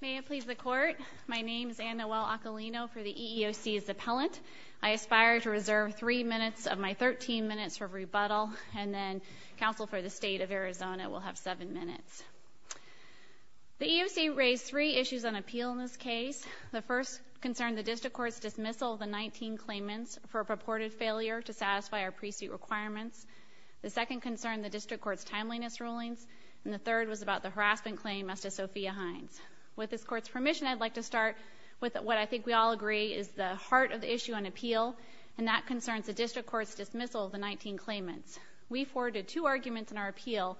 May it please the court. My name is Anna Well-Occolino for the EEOC as the appellant. I aspire to reserve three minutes of my 13 minutes for rebuttal and then counsel for the state of Arizona will have seven minutes. The EEOC raised three issues on appeal in this case. The first concern the district court's dismissal of the 19 claimants for purported failure to satisfy our pre-suit requirements. The second concern the district court's timeliness rulings and the third was about the harassment claim as to Sophia Hines. With this court's permission I'd like to start with what I think we all agree is the heart of the issue on appeal and that concerns the district court's dismissal of the 19 claimants. We forwarded two arguments in our appeal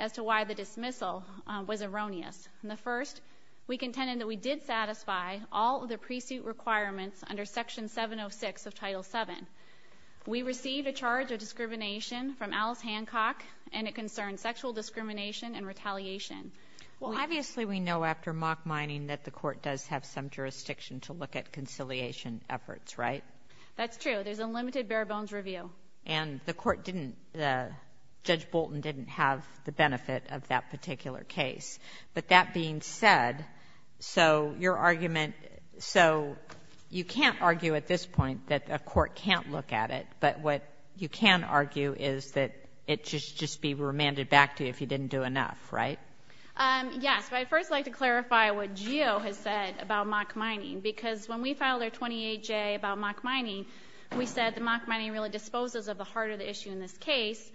as to why the dismissal was erroneous. In the first we contended that we did satisfy all of the pre-suit requirements under section 706 of title 7. We received a charge of discrimination and retaliation. Well obviously we know after mock mining that the court does have some jurisdiction to look at conciliation efforts, right? That's true. There's a limited bare-bones review. And the court didn't, Judge Bolton didn't have the benefit of that particular case. But that being said, so your argument, so you can't argue at this point that a court can't look at it but what you can argue is that it should just be remanded back to you if you didn't do enough, right? Yes, but I'd first like to clarify what GEO has said about mock mining because when we filed our 28J about mock mining we said the mock mining really disposes of the heart of the issue in this case,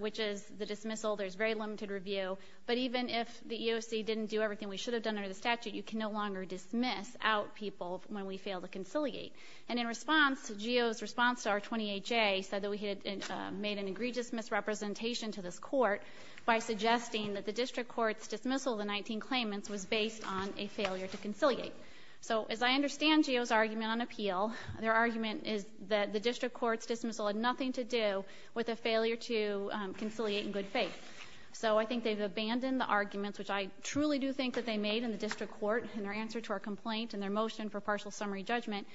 which is the dismissal. There's very limited review but even if the EOC didn't do everything we should have done under the statute you can no longer dismiss out people when we fail to conciliate. And in response to GEO's response to our 28J said that we had made an egregious misrepresentation to this court by suggesting that the district courts dismissal of the 19 claimants was based on a failure to conciliate. So as I understand GEO's argument on appeal, their argument is that the district courts dismissal had nothing to do with a failure to conciliate in good faith. So I think they've abandoned the arguments which I truly do think that they made in the district court in their answer to our complaint and their motion for partial summary judgment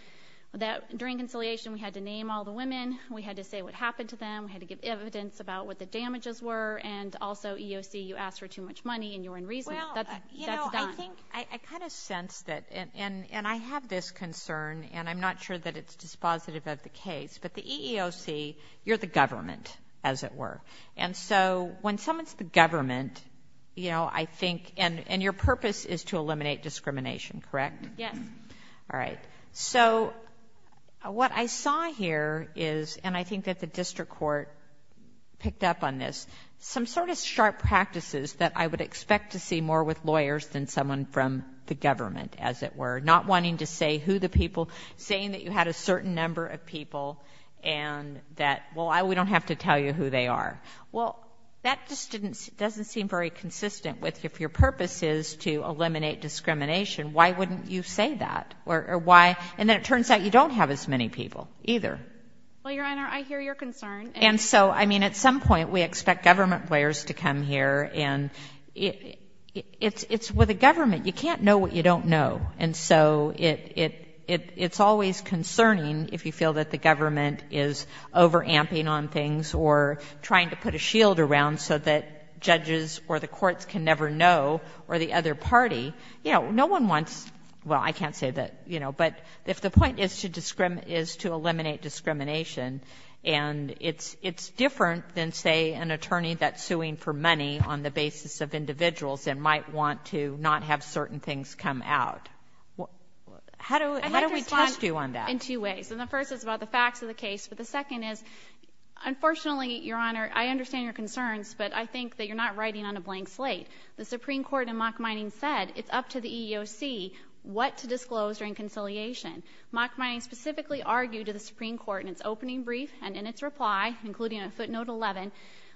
that during conciliation we had to name all the women, we had to say what happened to them, we had to give evidence about what the damages were, and also EEOC you asked for too much money and you're unreasonable. I kind of sense that and I have this concern and I'm not sure that it's dispositive of the case but the EEOC you're the government as it were and so when someone's the government you know I correct? Yes. All right. So what I saw here is and I think that the district court picked up on this some sort of sharp practices that I would expect to see more with lawyers than someone from the government as it were. Not wanting to say who the people saying that you had a certain number of people and that well I we don't have to tell you who they are. Well that just didn't doesn't seem very consistent with if your purpose is to eliminate discrimination why wouldn't you say that or why and then it turns out you don't have as many people either. Well your honor I hear your concern. And so I mean at some point we expect government players to come here and it's it's with a government you can't know what you don't know and so it it it's always concerning if you feel that the government is over amping on things or trying to put a shield around so that judges or the courts can never know or the other party you know no one wants well I can't say that you know but if the point is to discriminate is to eliminate discrimination and it's it's different than say an attorney that's suing for money on the basis of individuals and might want to not have certain things come out. How do how do we test you on that? In two ways. And the first is about the facts of the case but the second is unfortunately your honor I understand your concerns but I think that you're not writing on a blank slate. The Supreme Court in mock mining said it's up to the EEOC what to disclose during conciliation. Mock mining specifically argued to the Supreme Court in its opening brief and in its reply including a footnote 11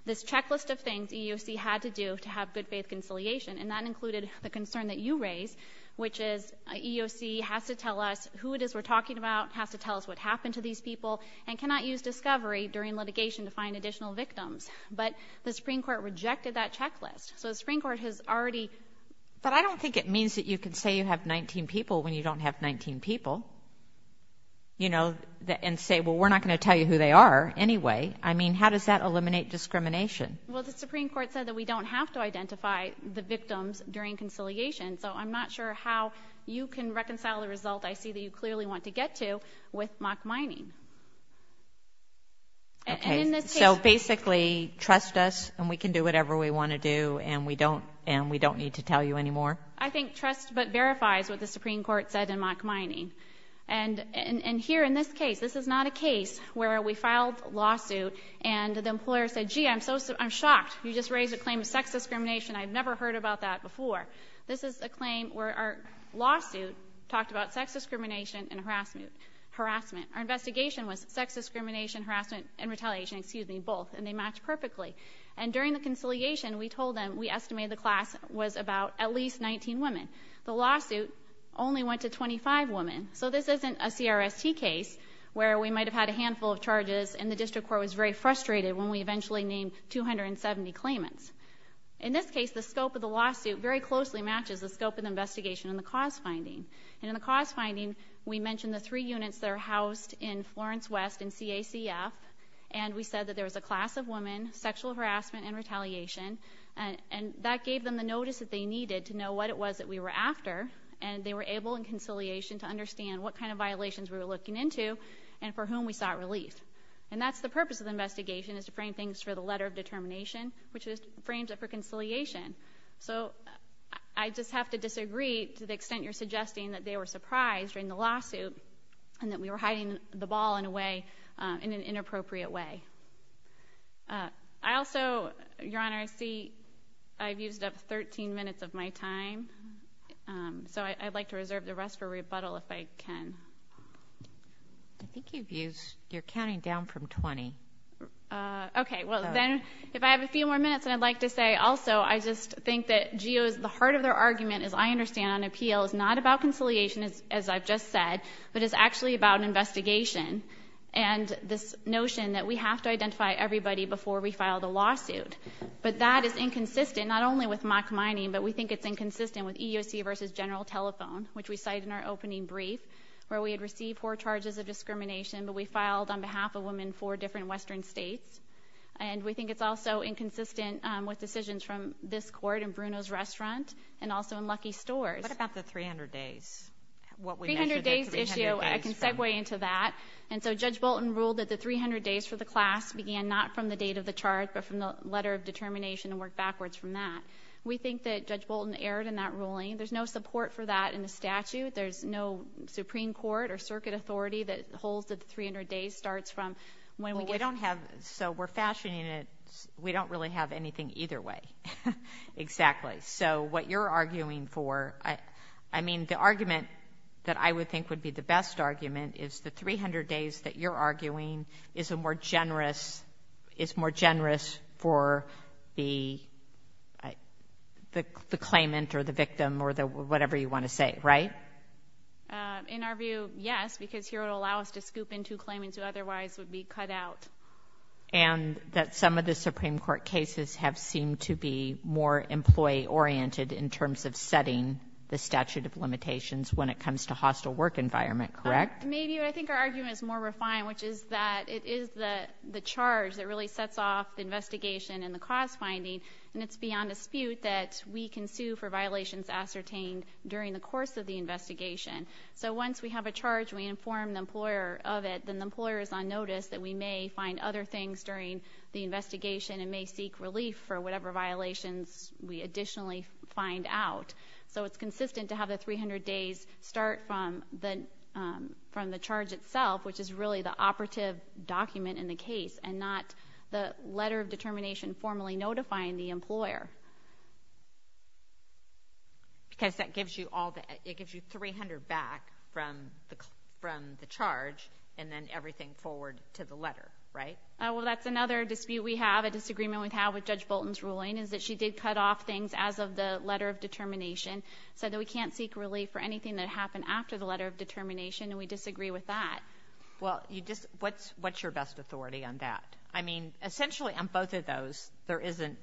this checklist of things EEOC had to do to have good-faith conciliation and that included the concern that you raised which is EEOC has to tell us who it is we're talking about has to tell us what happened to these people and cannot use discovery during litigation to find additional victims but the Supreme Court rejected that checklist so the Supreme Court has already but I don't think it means that you can say you have 19 people when you don't have 19 people you know that and say well we're not going to tell you who they are anyway I mean how does that eliminate discrimination? Well the Supreme Court said that we don't have to identify the victims during conciliation so I'm not sure how you can reconcile the result I see that you clearly want to get to with mock basically trust us and we can do whatever we want to do and we don't and we don't need to tell you anymore I think trust but verifies what the Supreme Court said in mock mining and and here in this case this is not a case where we filed lawsuit and the employer said gee I'm so I'm shocked you just raised a claim of sex discrimination I've never heard about that before this is a claim where our lawsuit talked about sex discrimination and harassment harassment our investigation was sex discrimination harassment and excuse me both and they match perfectly and during the conciliation we told them we estimate the class was about at least 19 women the lawsuit only went to 25 women so this isn't a CRST case where we might have had a handful of charges and the district court was very frustrated when we eventually named 270 claimants in this case the scope of the lawsuit very closely matches the scope of investigation in the cause finding and in the cause finding we mentioned the three units that are housed in Florence West and CACF and we said that there was a class of women sexual harassment and retaliation and and that gave them the notice that they needed to know what it was that we were after and they were able in conciliation to understand what kind of violations we were looking into and for whom we sought relief and that's the purpose of the investigation is to frame things for the letter of determination which is frames it for conciliation so I just have to disagree to the extent you're suggesting that they were surprised during the lawsuit and that we were hiding the ball in a way in an inappropriate way I also your honor I see I've used up 13 minutes of my time so I'd like to reserve the rest for rebuttal if I can I think you've used you're counting down from 20 okay well then if I have a few more minutes and I'd like to say also I just think that geo is the heart of their argument as I understand on appeal is not about conciliation as I've just said but it's actually about an investigation and this notion that we have to identify everybody before we filed a lawsuit but that is inconsistent not only with mock mining but we think it's inconsistent with EUC versus general telephone which we cite in our opening brief where we had received four charges of discrimination but we filed on behalf of women for different Western states and we think it's also inconsistent with decisions from this court and Bruno's lucky stores about the 300 days I can segue into that and so judge Bolton ruled that the 300 days for the class began not from the date of the chart but from the letter of determination and work backwards from that we think that judge Bolton erred in that ruling there's no support for that in the statute there's no Supreme Court or circuit authority that holds that 300 days starts from when we don't have so we're fashioning it we don't really have for I mean the argument that I would think would be the best argument is the 300 days that you're arguing is a more generous is more generous for the the claimant or the victim or the whatever you want to say right in our view yes because here it'll allow us to scoop into claiming to otherwise would be cut out and that some of the Supreme Court cases have seemed to be more employee oriented in terms of setting the statute of limitations when it comes to hostile work environment correct maybe I think our argument is more refined which is that it is the the charge that really sets off the investigation and the cost finding and it's beyond dispute that we can sue for violations ascertained during the course of the investigation so once we have a charge we inform the employer of it then the employer is on notice that we may find other things during the investigation and may seek relief for we additionally find out so it's consistent to have the 300 days start from the from the charge itself which is really the operative document in the case and not the letter of determination formally notifying the employer because that gives you all that it gives you 300 back from the from the charge and then everything forward to the letter right well that's another dispute we have a ruling is that she did cut off things as of the letter of determination so that we can't seek relief for anything that happened after the letter of determination and we disagree with that well you just what's what's your best authority on that I mean essentially on both of those there isn't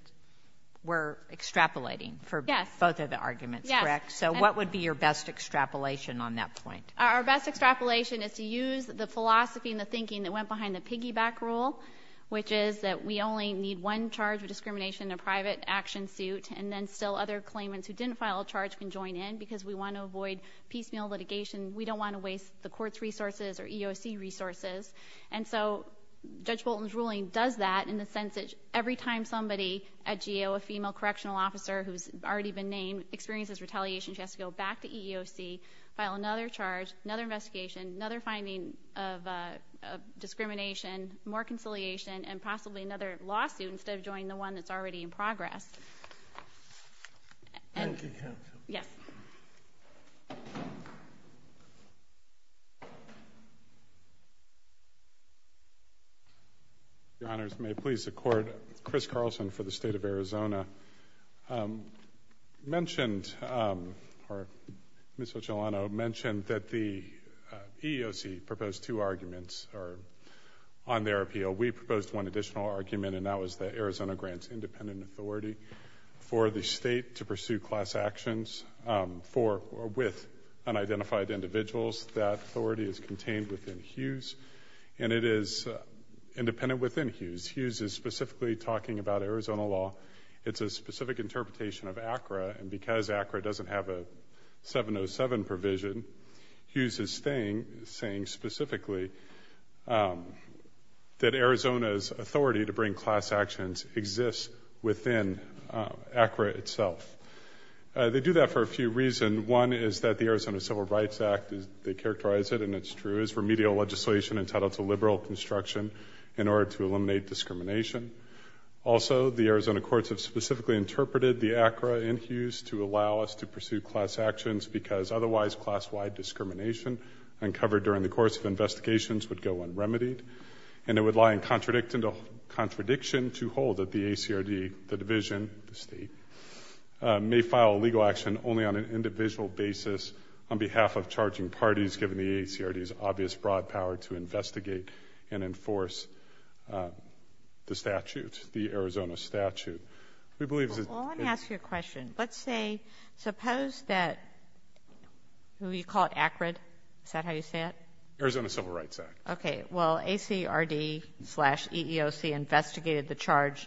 we're extrapolating for both of the arguments correct so what would be your best extrapolation on that point our best extrapolation is to use the philosophy and the thinking that went behind the piggyback rule which is that we only need one charge of discrimination in a private action suit and then still other claimants who didn't file a charge can join in because we want to avoid piecemeal litigation we don't want to waste the courts resources or EEOC resources and so judge Bolton's ruling does that in the sense that every time somebody at geo a female correctional officer who's already been named experiences retaliation she has to go back to EEOC file another charge another investigation another finding of discrimination more conciliation and instead of joining the one that's already in progress yes your honors may please the court Chris Carlson for the state of Arizona mentioned or miss Ocellano mentioned that the EEOC proposed two arguments are on their appeal we proposed one additional argument and that was that Arizona grants independent authority for the state to pursue class actions for with unidentified individuals that authority is contained within Hughes and it is independent within Hughes Hughes is specifically talking about Arizona law it's a specific interpretation of ACRA and because ACRA doesn't have a 707 provision Hughes is staying saying specifically that Arizona's authority to bring class actions exists within ACRA itself they do that for a few reason one is that the Arizona Civil Rights Act is they characterize it and it's true is remedial legislation entitled to liberal construction in order to eliminate discrimination also the Arizona courts have specifically interpreted the ACRA in Hughes to allow us to pursue class actions because otherwise class-wide discrimination uncovered during the course of investigations would go unremitied and it would lie in contradicting the contradiction to hold that the ACRD the division the state may file a legal action only on an individual basis on behalf of charging parties given the ACRD is obvious broad power to investigate and enforce the statute the Arizona statute we believe your question let's say suppose that who you call it accurate is that how you say it Arizona Civil Rights Act okay well ACRD slash EEOC investigated the charge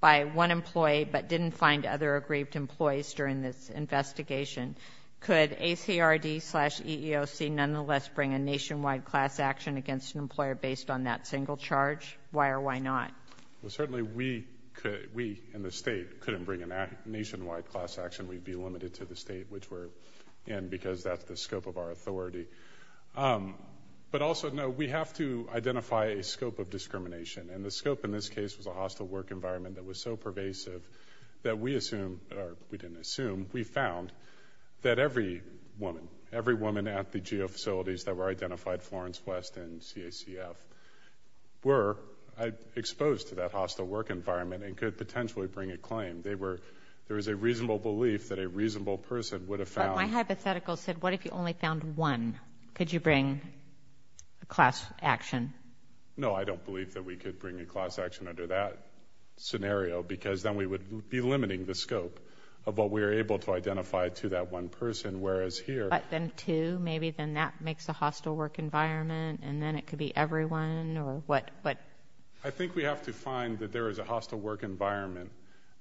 by one employee but didn't find other aggrieved employees during this investigation could ACRD slash EEOC nonetheless bring a nationwide class action against an employer based on that single charge why or why not well nationwide class action we'd be limited to the state which we're in because that's the scope of our authority but also no we have to identify a scope of discrimination and the scope in this case was a hostile work environment that was so pervasive that we assume we didn't assume we found that every woman every woman at the geofacilities that were identified Florence West and CACF were exposed to that hostile work environment and could potentially bring a claim they were there is a reasonable belief that a reasonable person would have found hypothetical said what if you only found one could you bring a class action no I don't believe that we could bring a class action under that scenario because then we would be limiting the scope of what we were able to identify to that one person whereas here but then to maybe then that makes a hostile work environment and then it could be everyone or what but I think we have to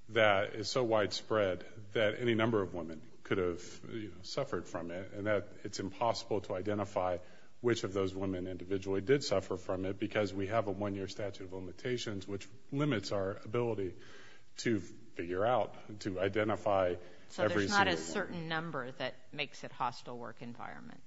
that is so widespread that any number of women could have suffered from it and that it's impossible to identify which of those women individually did suffer from it because we have a one-year statute of limitations which limits our ability to figure out to identify so there's not a certain number that makes it hostile work environment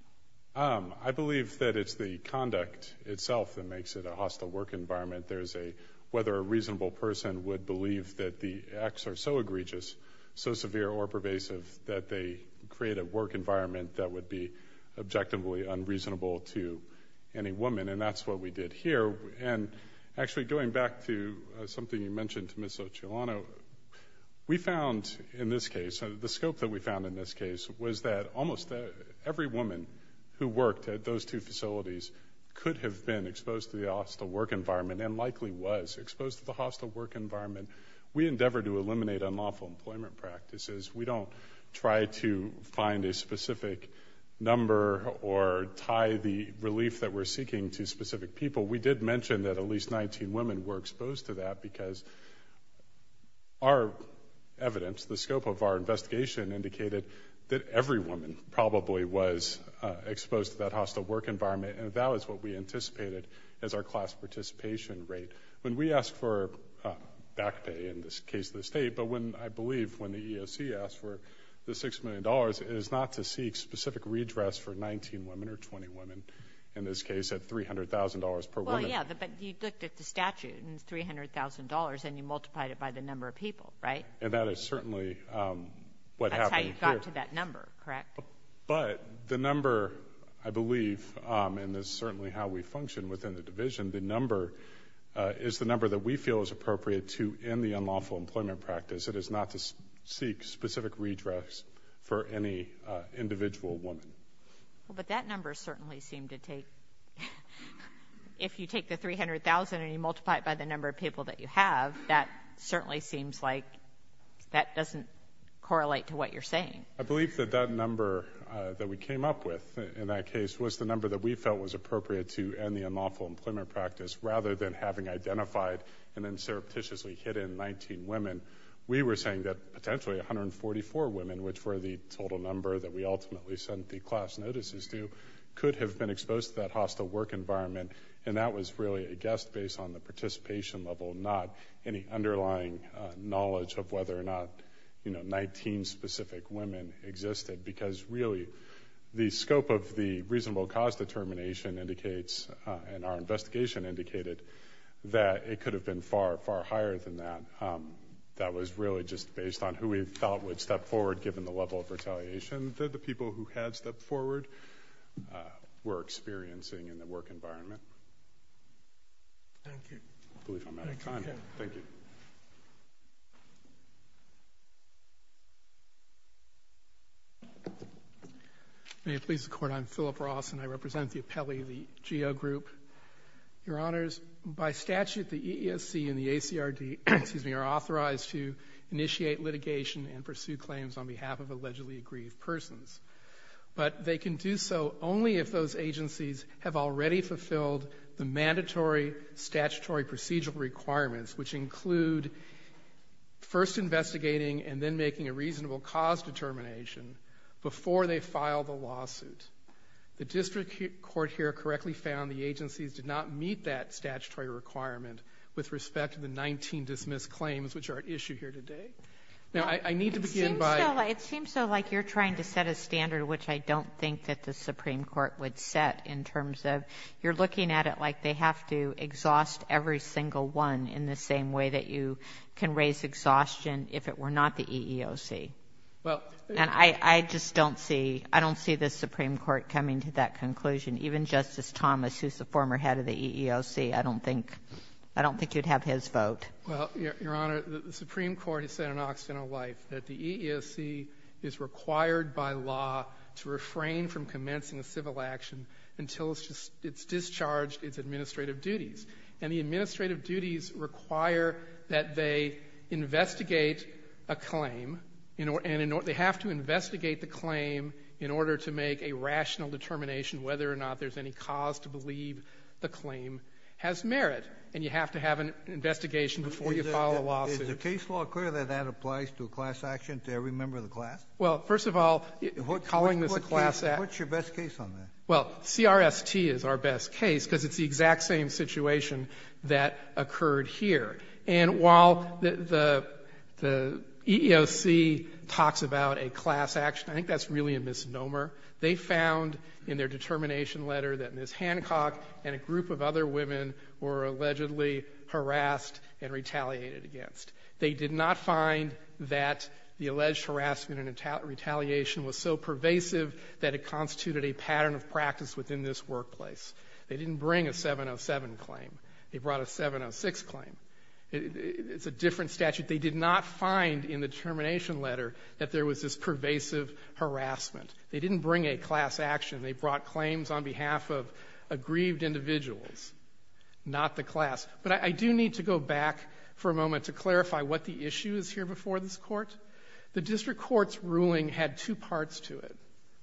I believe that it's the conduct itself that makes it a hostile work environment there's a whether a reasonable person would believe that the acts are so egregious so severe or pervasive that they create a work environment that would be objectively unreasonable to any woman and that's what we did here and actually going back to something you mentioned to Miss Ocelano we found in this case the scope that we found in this case was that almost every woman who worked at those two facilities could have been exposed to the hostile work environment and likely was exposed to the hostile work environment we endeavor to eliminate unlawful employment practices we don't try to find a specific number or tie the relief that we're seeking to specific people we did mention that at least 19 women were exposed to that because our evidence the scope of our investigation indicated that every woman probably was exposed to that hostile work environment and that was what we back pay in this case of the state but when I believe when the ESC asked for the six million dollars is not to seek specific redress for 19 women or 20 women in this case at $300,000 per woman yeah but you looked at the statute and $300,000 and you multiplied it by the number of people right and that is certainly what happened to that number correct but the number I believe and this certainly how we function within the division the number is the number that we feel is appropriate to in the unlawful employment practice it is not to seek specific redress for any individual woman but that number certainly seemed to take if you take the 300,000 and you multiply it by the number of people that you have that certainly seems like that doesn't correlate to what you're saying I believe that that number that we came up with in that case was the number that we felt was appropriate to and the and then surreptitiously hit in 19 women we were saying that potentially 144 women which were the total number that we ultimately sent the class notices to could have been exposed to that hostile work environment and that was really a guess based on the participation level not any underlying knowledge of whether or not you know 19 specific women existed because really the scope of the reasonable cause determination indicates and our investigation indicated that it could have been far far higher than that that was really just based on who we felt would step forward given the level of retaliation that the people who had stepped forward were experiencing in the work environment may it please the court I'm Philip Ross and I represent the appellee the geo group your honors by statute the ESC and the ACR D excuse me are authorized to initiate litigation and pursue claims on behalf of allegedly aggrieved persons but they can do so only if those agencies have already fulfilled the mandatory statutory procedural requirements which include first investigating and then making a reasonable cause determination before they file the lawsuit the district court here correctly found the agencies did not meet that statutory requirement with respect to the 19 dismissed claims which are at issue here today now I need to begin by it seems so like you're trying to set a standard which I don't think that the Supreme Court would set in terms of you're looking at it like they have to exhaust every single one in the same way that you can raise exhaustion if it were not the EEOC well and I I just don't see I don't see the Supreme Court coming to that conclusion even justice Thomas who's the former head of the EEOC I don't think I don't think you'd have his vote well your honor the Supreme Court has said in Occidental life that the ESC is required by law to refrain from commencing a civil action until it's just it's discharged its administrative duties and the administrative duties require that they investigate a claim you know and in they have to investigate the claim in order to make a rational determination whether or not there's any cause to believe the claim has merit and you have to have an investigation before you file a lawsuit. Is the case law clear that that applies to a class action to every member of the class? Well first of all what calling this a class act. What's your best case on that? Well CRST is our best case because it's the exact same situation that occurred here and while the EEOC talks about a class action I think that's really a misnomer. They found in their determination letter that Ms. Hancock and a group of other women were allegedly harassed and retaliated against. They did not find that the alleged harassment and retaliation was so pervasive that it constituted a pattern of practice within this workplace. They didn't bring a 707 claim they brought a 706 claim. It's a different statute. They did not find in the determination letter that there was this pervasive harassment. They didn't bring a class action. They brought claims on behalf of aggrieved individuals, not the class. But I do need to go back for a moment to clarify what the issue is here before this court. The district courts ruling had two parts to it,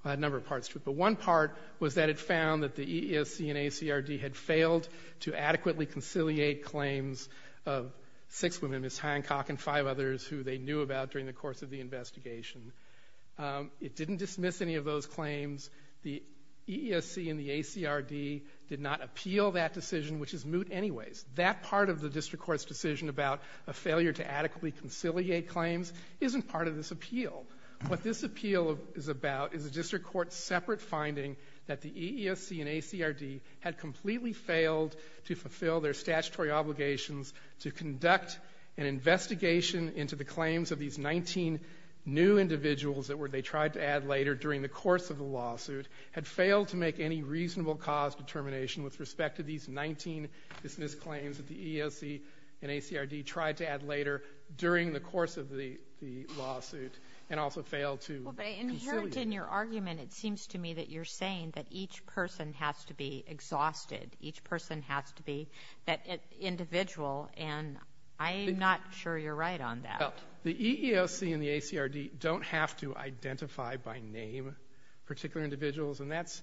a number of parts to it, but one part was that it found that the EEOC and ACRD had failed to adequately conciliate claims of six women, Ms. Hancock and five others, who they knew about during the course of the investigation. It didn't dismiss any of those claims. The EEOC and the ACRD did not appeal that decision, which is moot anyways. That part of the district court's decision about a failure to adequately conciliate claims isn't part of this appeal. What this appeal is about is a district court separate finding that the EEOC and ACRD had completely failed to fulfill their statutory obligations to conduct an investigation into the claims of these 19 new individuals that they tried to add later during the course of the lawsuit, had failed to make any reasonable cause determination with respect to these 19 dismissed claims that the EEOC and ACRD tried to add later during the course of the lawsuit, and also failed to conciliate. But inherent in your argument, it seems to me that you're saying that each person has to be exhausted, each person has to be that individual, and I'm not sure you're right on that. The EEOC and the ACRD don't have to identify by name particular individuals, and that's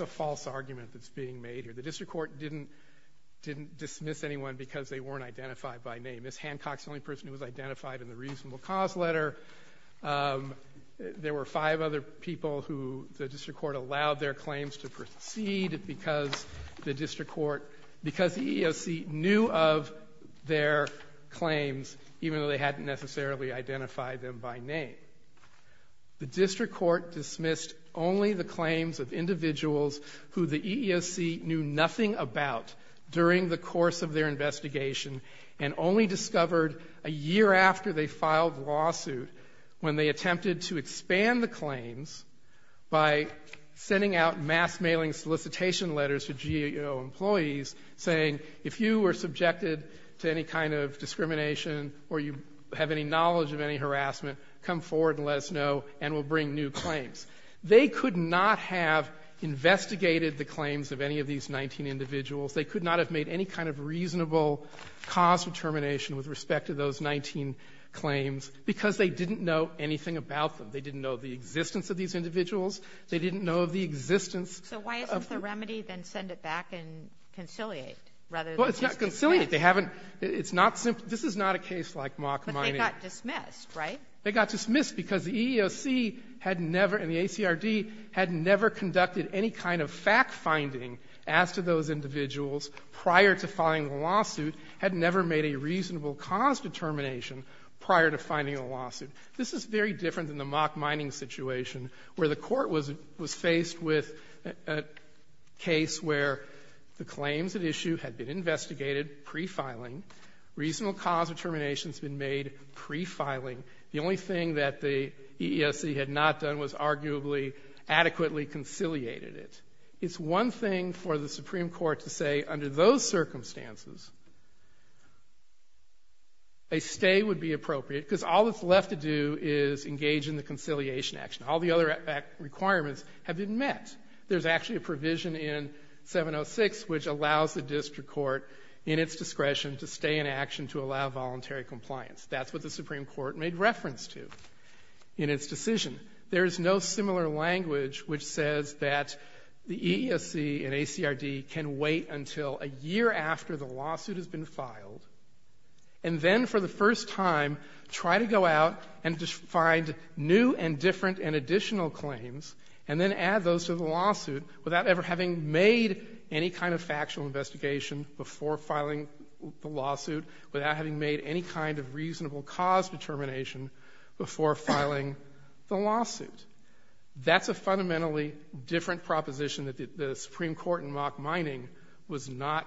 a false argument that's being made here. The district court didn't dismiss anyone because they weren't identified by name. Ms. Hancock's the only person who was identified in the reasonable cause letter. There were five other people who the district court allowed their claims to proceed because the district court, because the EEOC knew of their claims, even though they hadn't necessarily identified them by name. The district court dismissed only the claims of individuals who the EEOC knew nothing about during the course of their investigation, and only discovered a year after they filed the lawsuit when they attempted to expand the claims by sending out mass mailing solicitation letters to GAO employees saying if you were subjected to any kind of discrimination or you have any knowledge of any harassment, come forward and let us know and we'll bring new claims. They could not have investigated the claims of any of these 19 individuals. They could not have made any kind of reasonable cause determination with respect to those 19 claims because they didn't know anything about them. They didn't know the existence of these individuals. They didn't know of the existence of the... So why isn't the remedy then send it back and conciliate rather than just dismiss? Well, it's not conciliate. They haven't... It's not simply... This is not a case like mock mining. But they got dismissed, right? They got dismissed because the EEOC had never, and the ACRD, had never conducted any kind of fact finding as to those individuals prior to filing the lawsuit, had never made a reasonable cause determination prior to finding a lawsuit. This is very different than the mock mining situation where the court was faced with a case where the claims at issue had been investigated pre-filing. Reasonable cause determination has been made pre-filing. The only thing that the EEOC had not done was arguably adequately conciliated it. It's one thing for the Supreme Court to say under those circumstances, a stay would be appropriate because all that's left to do is engage in the conciliation action. All the other requirements have been met. There's actually a provision in 706 which allows the district court, in its discretion, to stay in action to allow voluntary compliance. That's what the Supreme Court made reference to in its decision. There is no similar language which says that the EEOC and ACRD can wait until a year after the lawsuit has been filed and then for the first time try to go out and find new and different and additional claims and then add those to the lawsuit without ever having made any kind of factual investigation before filing the lawsuit, without having made any kind of reasonable cause determination before filing the lawsuit. That's a fundamentally different proposition that the Supreme Court in mock mining was not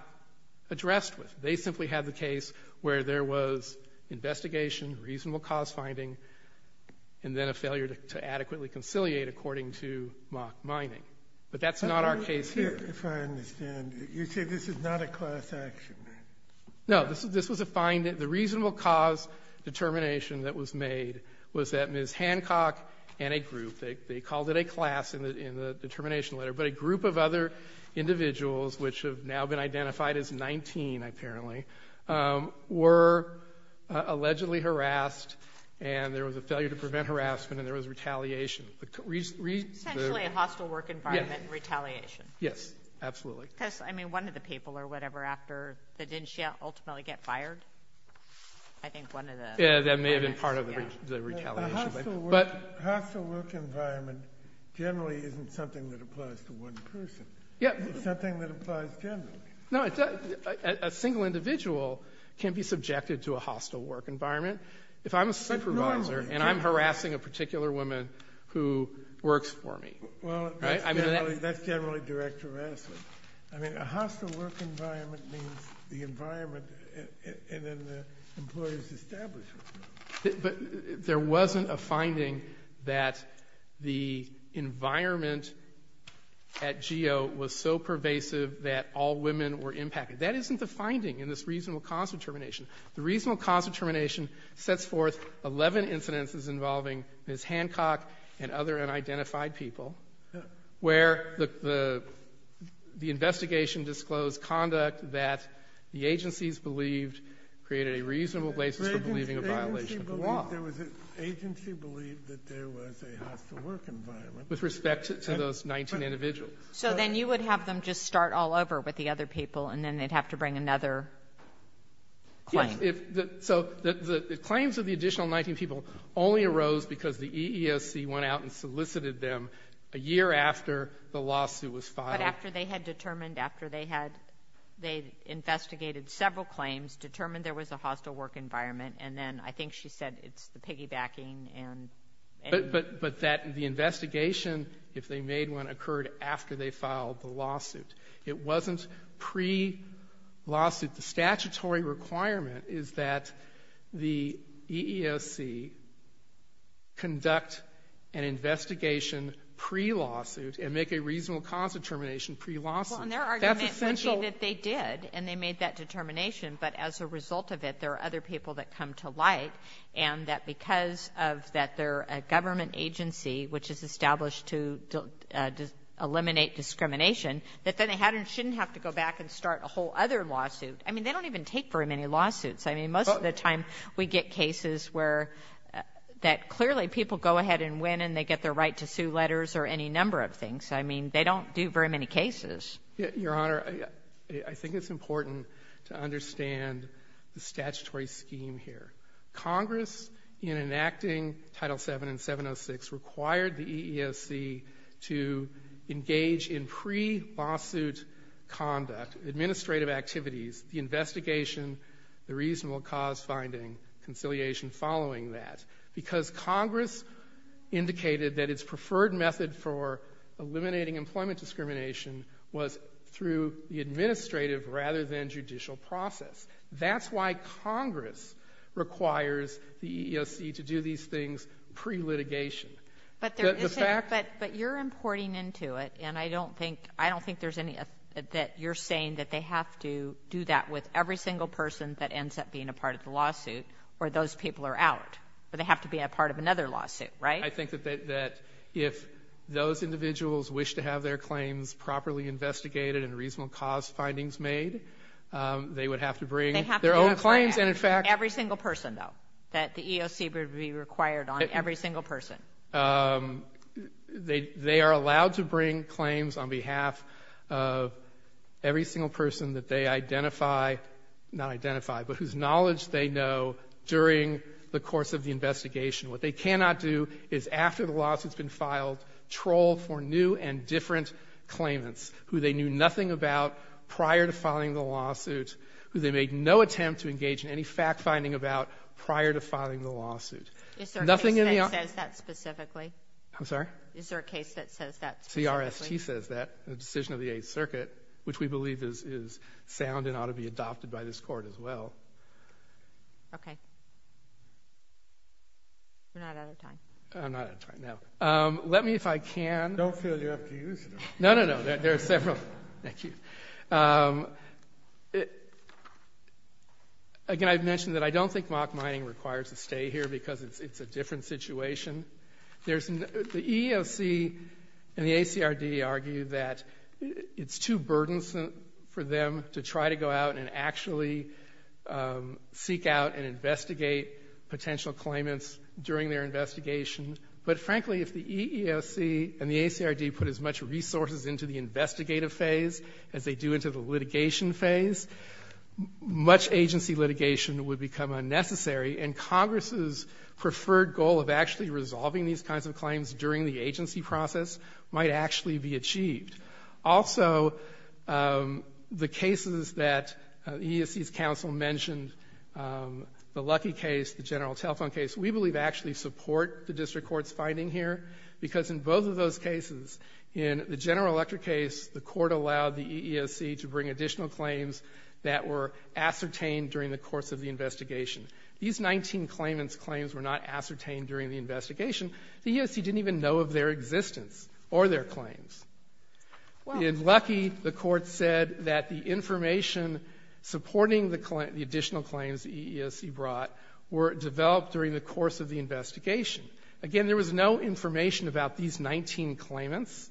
addressed with. They simply had the case where there was investigation, reasonable cause finding, and then a failure to adequately conciliate according to mock mining. But that's not our case here. If I understand, you say this is not a class action? No. This was a find — the reasonable cause determination that was made was that Ms. Hancock and a group — they called it a class in the determination letter — but a group of other individuals, which have now been identified as 19, apparently, were allegedly harassed and there was a failure to prevent harassment and there was retaliation. Essentially a hostile work environment and retaliation. Yes, absolutely. Because, I mean, one of the people or whatever after the — didn't she ultimately get fired? I think one of the — Yeah, that may have been part of the retaliation. A hostile work environment generally isn't something that applies to one person. Yeah. It's something that applies generally. No, a single individual can be subjected to a hostile work environment. If I'm a supervisor and I'm harassing a particular woman who works for me, right? Well, that's generally direct harassment. I mean, a hostile work environment means the environment in an employee's establishment. But there wasn't a finding that the environment at GEO was so pervasive that all women were impacted. That isn't the finding in this reasonable cause of termination. The reasonable cause of termination sets forth 11 incidences involving Ms. Hancock and other unidentified people where the investigation disclosed conduct that the agencies believed created a reasonable place for believing a violation of the law. The agency believed that there was a hostile work environment. With respect to those 19 individuals. So then you would have them just start all over with the other people and then they'd have to bring another claim. Yes. So the claims of the additional 19 people only arose because the EESC went out and solicited them a year after the lawsuit was filed. But after they had determined — after they had — they investigated several claims, determined there was a hostile work environment, and then I think she said it's the piggybacking and — But that the investigation, if they made one, occurred after they filed the lawsuit. It wasn't pre-lawsuit. The statutory requirement is that the EESC conduct an investigation pre-lawsuit and make a reasonable cause of termination pre-lawsuit. Well, and their argument — That's essential — I agree that they did, and they made that determination. But as a result of it, there are other people that come to light, and that because of that they're a government agency, which is established to eliminate discrimination, that then they shouldn't have to go back and start a whole other lawsuit. I mean, they don't even take very many lawsuits. I mean, most of the time we get cases where — that clearly people go ahead and win and they get their right to sue letters or any number of things. I mean, they don't do very many cases. Your Honor, I think it's important to understand the statutory scheme here. Congress, in enacting Title VII and 706, required the EESC to engage in pre-lawsuit conduct, administrative activities, the investigation, the reasonable cause finding, conciliation following that, because Congress indicated that its preferred method for eliminating employment discrimination was through the administrative rather than judicial process. That's why Congress requires the EESC to do these things pre-litigation. But there isn't — The fact — But you're importing into it, and I don't think there's any — that you're saying that they have to do that with every single person that ends up being a part of the lawsuit or those people are out, or they have to be a part of another lawsuit, right? I think that if those individuals wish to have their claims properly investigated and reasonable cause findings made, they would have to bring their own claims, and in fact — They have to bring their own claims for every single person, though, that the EESC would be required on, every single person. They are allowed to bring claims on behalf of every single person that they identify — not identify, but whose knowledge they know during the course of the investigation. What they cannot do is, after the lawsuit's been filed, troll for new and different claimants who they knew nothing about prior to filing the lawsuit, who they made no attempt to engage in any fact-finding about prior to filing the lawsuit. Nothing in the — Is there a case that says that specifically? I'm sorry? Is there a case that says that specifically? CRST says that, the decision of the Eighth Circuit, which we believe is sound and ought to be adopted by this Court as well. Okay. We're not out of time. I'm not out of time. No. Let me, if I can — Don't feel you have to use it all. No, no, no. There are several. Thank you. Again, I've mentioned that I don't think mock mining requires a stay here because it's a different situation. The EEOC and the ACRD argue that it's too burdensome for them to try to go out and actually seek out and investigate potential claimants during their investigation. But, frankly, if the EEOC and the ACRD put as much resources into the investigative phase as they do into the litigation phase, much agency litigation would become unnecessary, and Congress's preferred goal of actually resolving these kinds of claims during the agency process might actually be achieved. Also, the cases that EEOC's counsel mentioned, the Lucky case, the General Telephone case, we believe actually support the district court's finding here because in both of those cases, in the General Electric case, the court allowed the EEOC to bring additional claims that were ascertained during the course of the investigation. These 19 claimants' claims were not ascertained during the investigation. The EEOC didn't even know of their existence or their claims. In Lucky, the court said that the information supporting the additional claims the EEOC brought were developed during the course of the investigation. Again, there was no information about these 19 claimants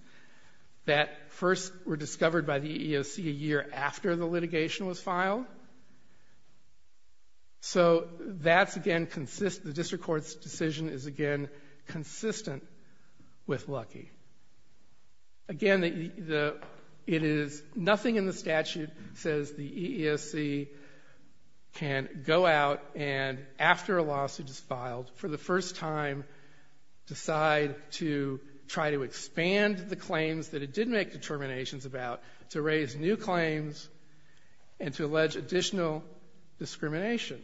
that first were discovered by the EEOC a year after the litigation was filed. So that's, again, the district court's decision is, again, consistent with Lucky. Again, nothing in the statute says the EEOC can go out and, after a lawsuit is filed, for the first time decide to try to expand the claims that it did make determinations about to raise new claims and to allege additional discrimination.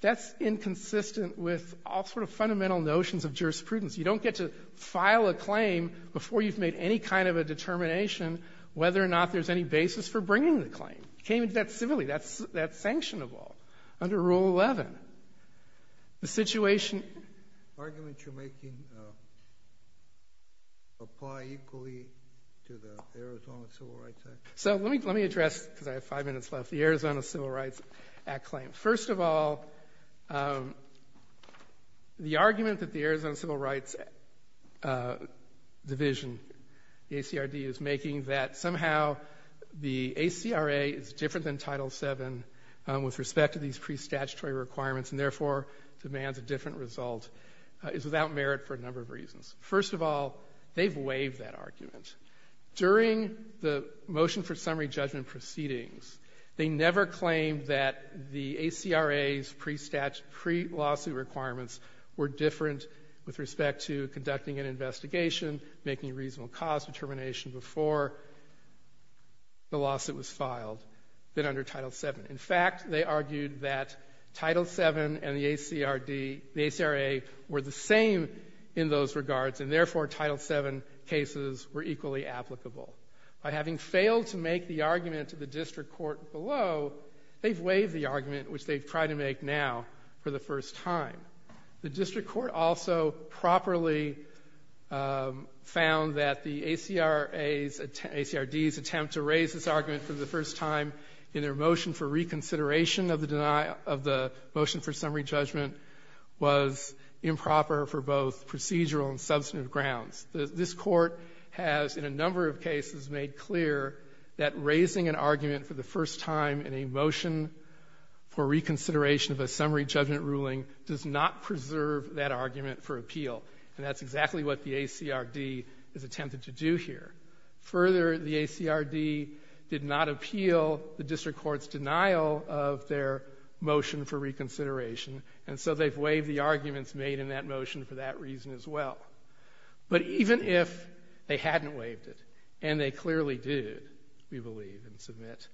That's inconsistent with all sort of fundamental notions of jurisprudence. You don't get to file a claim before you've made any kind of a determination whether or not there's any basis for bringing the claim. You can't do that civilly. That's sanctionable under Rule 11. The situation... Arguments you're making apply equally to the Arizona Civil Rights Act? So let me address, because I have five minutes left, the Arizona Civil Rights Act claim. First of all, the argument that the Arizona Civil Rights Division, the ACRD, is making that somehow the ACRA is different than Title VII with respect to these pre-statutory requirements and, therefore, demands a different result is without merit for a number of reasons. First of all, they've waived that argument. During the motion for summary judgment proceedings, they never claimed that the ACRA's pre-lawsuit requirements were different with respect to conducting an investigation, making reasonable cause determination before the lawsuit was filed than under Title VII. In fact, they argued that Title VII and the ACRA were the same in those regards and, therefore, Title VII cases were equally applicable. By having failed to make the argument to the district court below, they've waived the argument, which they've tried to make now for the first time. The district court also properly found that the ACRA's attempt, ACRD's attempt to raise this argument for the first time in their motion for reconsideration of the motion for summary judgment was improper for both procedural and substantive grounds. This Court has, in a number of cases, made clear that raising an argument for the first time in a motion for reconsideration of a summary judgment ruling does not preserve that argument for appeal, and that's exactly what the ACRD has attempted to do here. Further, the ACRD did not appeal the district court's denial of their motion for reconsideration, and so they've waived the arguments made in that motion for that reason as well. But even if they hadn't waived it, and they clearly did, we believe and submit,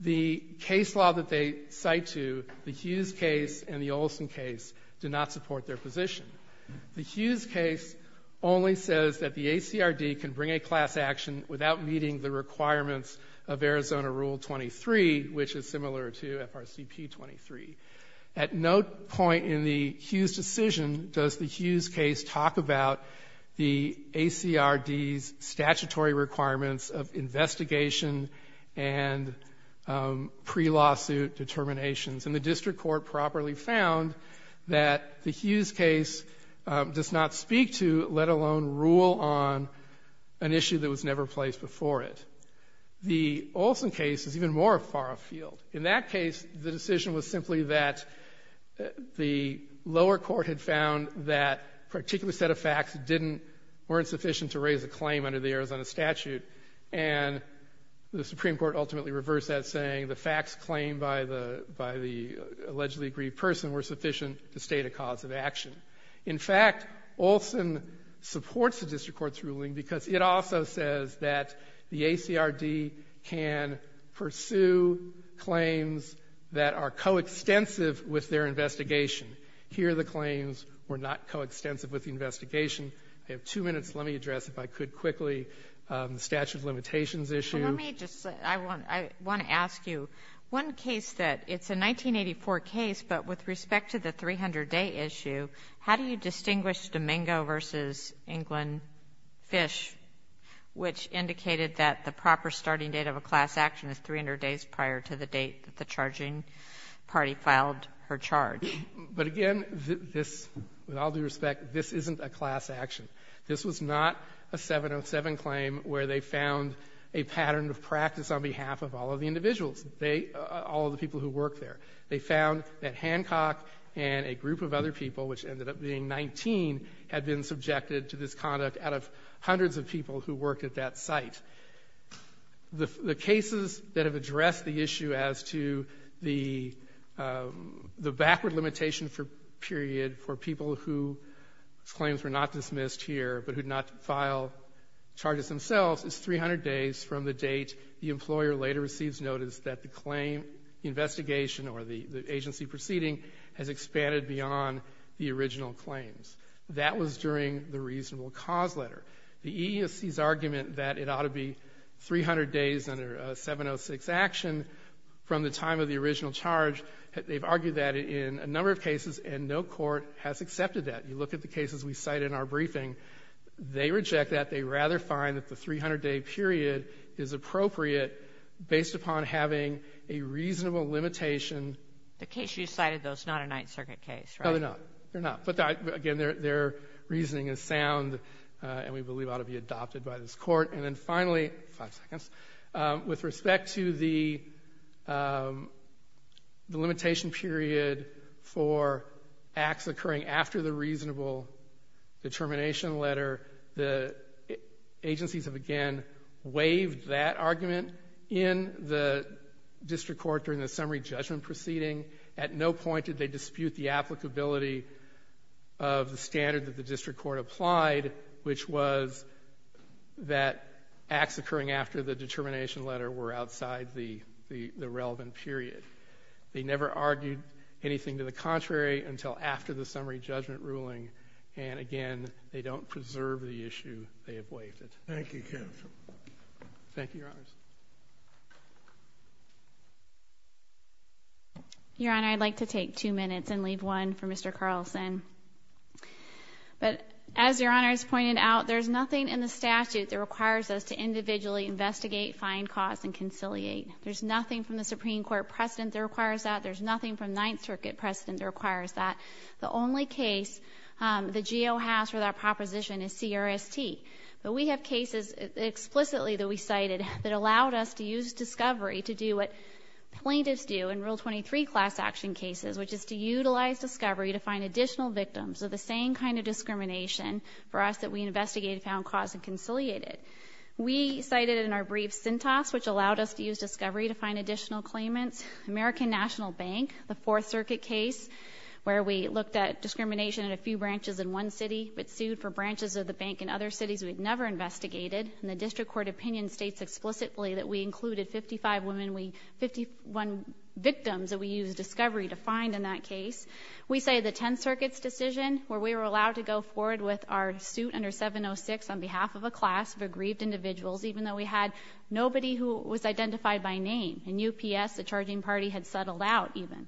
the case law that they cite to, the Hughes case and the Olson case, do not support their position. The Hughes case only says that the ACRD can bring a class action without meeting the requirements of Arizona Rule 23, which is similar to FRCP 23. At no point in the Hughes decision does the Hughes case talk about the ACRD's statutory requirements of investigation and pre-lawsuit determinations. And the district court properly found that the Hughes case does not speak to, let alone rule on, an issue that was never placed before it. The Olson case is even more far afield. In that case, the decision was simply that the lower court had found that a particular set of facts weren't sufficient to raise a claim under the Arizona statute, and the Supreme Court ultimately reversed that, saying the facts claimed by the allegedly aggrieved person were sufficient to state a cause of action. In fact, Olson supports the district court's ruling because it also says that the ACRD can pursue claims that are coextensive with their investigation. Here, the claims were not coextensive with the investigation. I have two minutes. Let me address, if I could quickly, the statute of limitations issue. And let me just say, I want to ask you, one case that it's a 1984 case, but with respect to the 300-day issue, how do you distinguish Domingo v. England Fish, which indicated that the proper starting date of a class action is 300 days prior to the date that the charging party filed her charge? But again, this, with all due respect, this isn't a class action. This was not a 707 claim where they found a pattern of practice on behalf of all of the individuals, all of the people who worked there. They found that Hancock and a group of other people, which ended up being 19, had been subjected to this conduct out of hundreds of people who worked at that site. The cases that have addressed the issue as to the backward limitation period for people whose claims were not dismissed here, but who did not file charges themselves, is 300 days from the date the employer later receives notice that the claim investigation or the agency proceeding has expanded beyond the original claims. That was during the reasonable cause letter. The EEOC's argument that it ought to be 300 days under a 706 action from the time of the original charge, they've argued that in a number of cases, and no court has accepted that. You look at the cases we cite in our briefing. They reject that. They rather find that the 300-day period is appropriate based upon having a reasonable limitation. The case you cited, though, is not a Ninth Circuit case, right? No, they're not. They're not. And we believe it ought to be adopted by this court. And then finally, five seconds, with respect to the limitation period for acts occurring after the reasonable determination letter, the agencies have again waived that argument in the district court during the summary judgment proceeding. At no point did they dispute the applicability of the standard that the district court applied, which was that acts occurring after the determination letter were outside the relevant period. They never argued anything to the contrary until after the summary judgment ruling. And again, they don't preserve the issue. They have waived it. Thank you, counsel. Thank you, Your Honors. Your Honor, I'd like to take two minutes and leave one for Mr. Carlson. But as Your Honor has pointed out, there's nothing in the statute that requires us to individually investigate, find cause, and conciliate. There's nothing from the Supreme Court precedent that requires that. There's nothing from Ninth Circuit precedent that requires that. The only case the GO has for that proposition is CRST. But we have cases explicitly that we cited that allowed us to use discovery to do what plaintiffs do in Rule 23 class action cases, which is to utilize discovery to find additional victims of the same kind of discrimination for us that we investigated, found cause, and conciliated. We cited it in our brief syntax, which allowed us to use discovery to find additional claimants. American National Bank, the Fourth Circuit case, where we looked at discrimination in a few branches in one city but sued for branches of the bank in other cities we'd never investigated. And the district court opinion states explicitly that we included 55 women, 51 victims that we used discovery to find in that case. We cited the Tenth Circuit's decision, where we were allowed to go forward with our suit under 706 on behalf of a class of aggrieved individuals, even though we had nobody who was identified by name. In UPS, the charging party had settled out, even.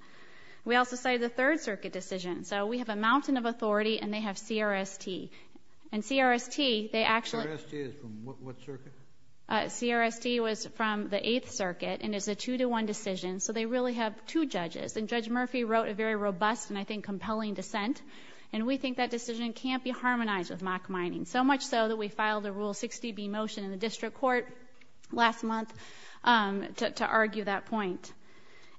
We also cited the Third Circuit decision. So we have a mountain of authority, and they have CRST. And CRST, they actually— CRST is from what circuit? CRST was from the Eighth Circuit, and it's a two-to-one decision. So they really have two judges. And Judge Murphy wrote a very robust and, I think, compelling dissent. And we think that decision can't be harmonized with mock mining, so much so that we filed a Rule 60B motion in the district court last month to argue that point.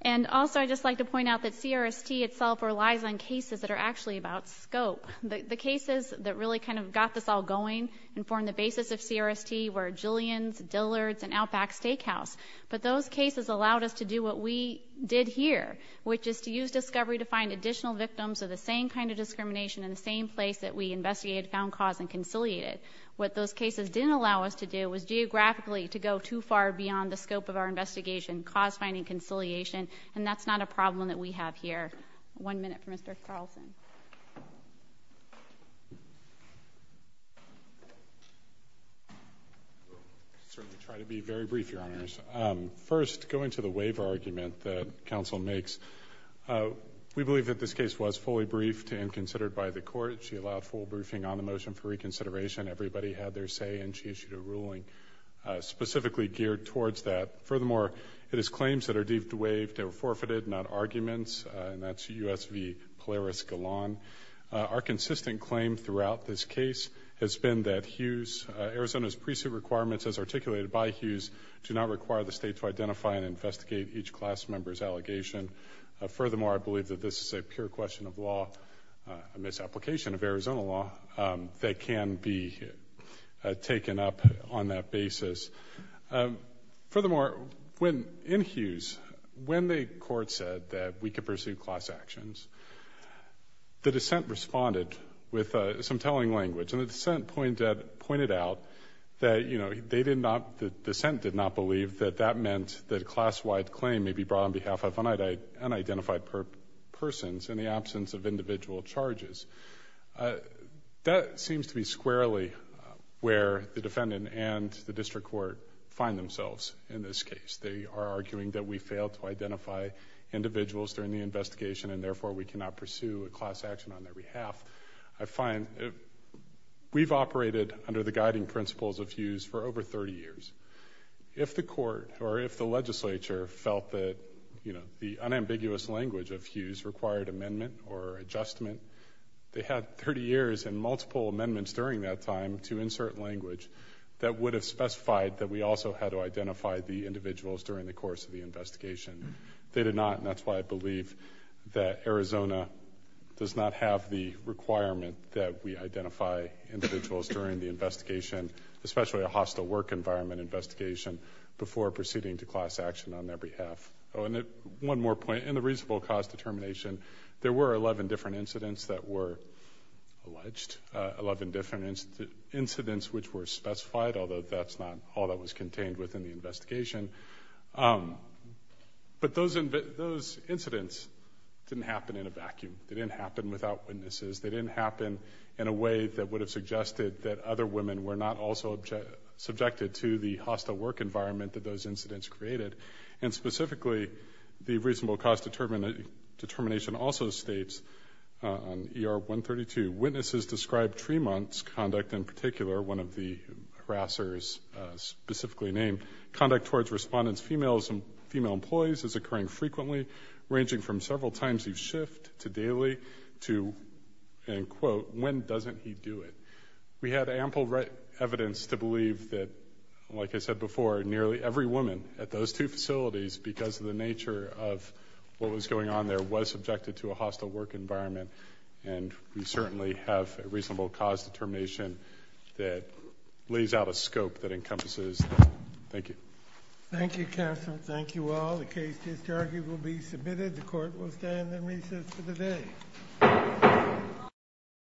And also, I'd just like to point out that CRST itself relies on cases that are actually about scope. The cases that really kind of got this all going and formed the basis of CRST were Jillian's, Dillard's, and Outback Steakhouse. But those cases allowed us to do what we did here, which is to use discovery to find additional victims of the same kind of discrimination in the same place that we investigated, found cause, and conciliated. What those cases didn't allow us to do was geographically to go too far beyond the scope of our investigation, cause finding, conciliation. And that's not a problem that we have here. One minute for Mr. Carlson. Certainly try to be very brief, Your Honors. First, going to the waiver argument that counsel makes, we believe that this case was fully briefed and considered by the court. She allowed full briefing on the motion for reconsideration. Everybody had their say, and she issued a ruling specifically geared towards that. Furthermore, it is claims that are deemed to waive that were forfeited, not Our consistent claim throughout this case has been that Arizona's pre-suit requirements, as articulated by Hughes, do not require the state to identify and investigate each class member's allegation. Furthermore, I believe that this is a pure question of law, a misapplication of Arizona law, that can be taken up on that basis. Furthermore, in Hughes, when the court said that we could pursue class actions, the dissent responded with some telling language. And the dissent pointed out that the dissent did not believe that that meant that a class-wide claim may be brought on behalf of unidentified persons in the absence of individual charges. That seems to be squarely where the defendant and the district court find themselves in this case. They are arguing that we failed to identify individuals during the course of the investigation, that we cannot pursue a class action on their behalf. I find we've operated under the guiding principles of Hughes for over 30 years. If the court or if the legislature felt that, you know, the unambiguous language of Hughes required amendment or adjustment, they had 30 years and multiple amendments during that time to insert language that would have specified that we also had to identify the individuals during the course of the investigation. They did not, and that's why I believe that Arizona does not have the requirement that we identify individuals during the investigation, especially a hostile work environment investigation, before proceeding to class action on their behalf. Oh, and one more point. In the reasonable cause determination, there were 11 different incidents that were alleged, 11 different incidents which were specified, although that's not all that was contained within the investigation. But those incidents didn't happen in a vacuum. They didn't happen without witnesses. They didn't happen in a way that would have suggested that other women were not also subjected to the hostile work environment that those incidents created. And specifically, the reasonable cause determination also states on ER 132, the witnesses described Tremont's conduct in particular, one of the harassers specifically named, conduct towards respondents, females and female employees is occurring frequently, ranging from several times a shift to daily to, and quote, when doesn't he do it? We had ample evidence to believe that, like I said before, nearly every woman at those two facilities, because of the nature of what was going on there, was certainly have a reasonable cause determination that lays out a scope that encompasses that. Thank you. Thank you, counsel. Thank you all. The case to be argued will be submitted. The court will stand in recess for the day.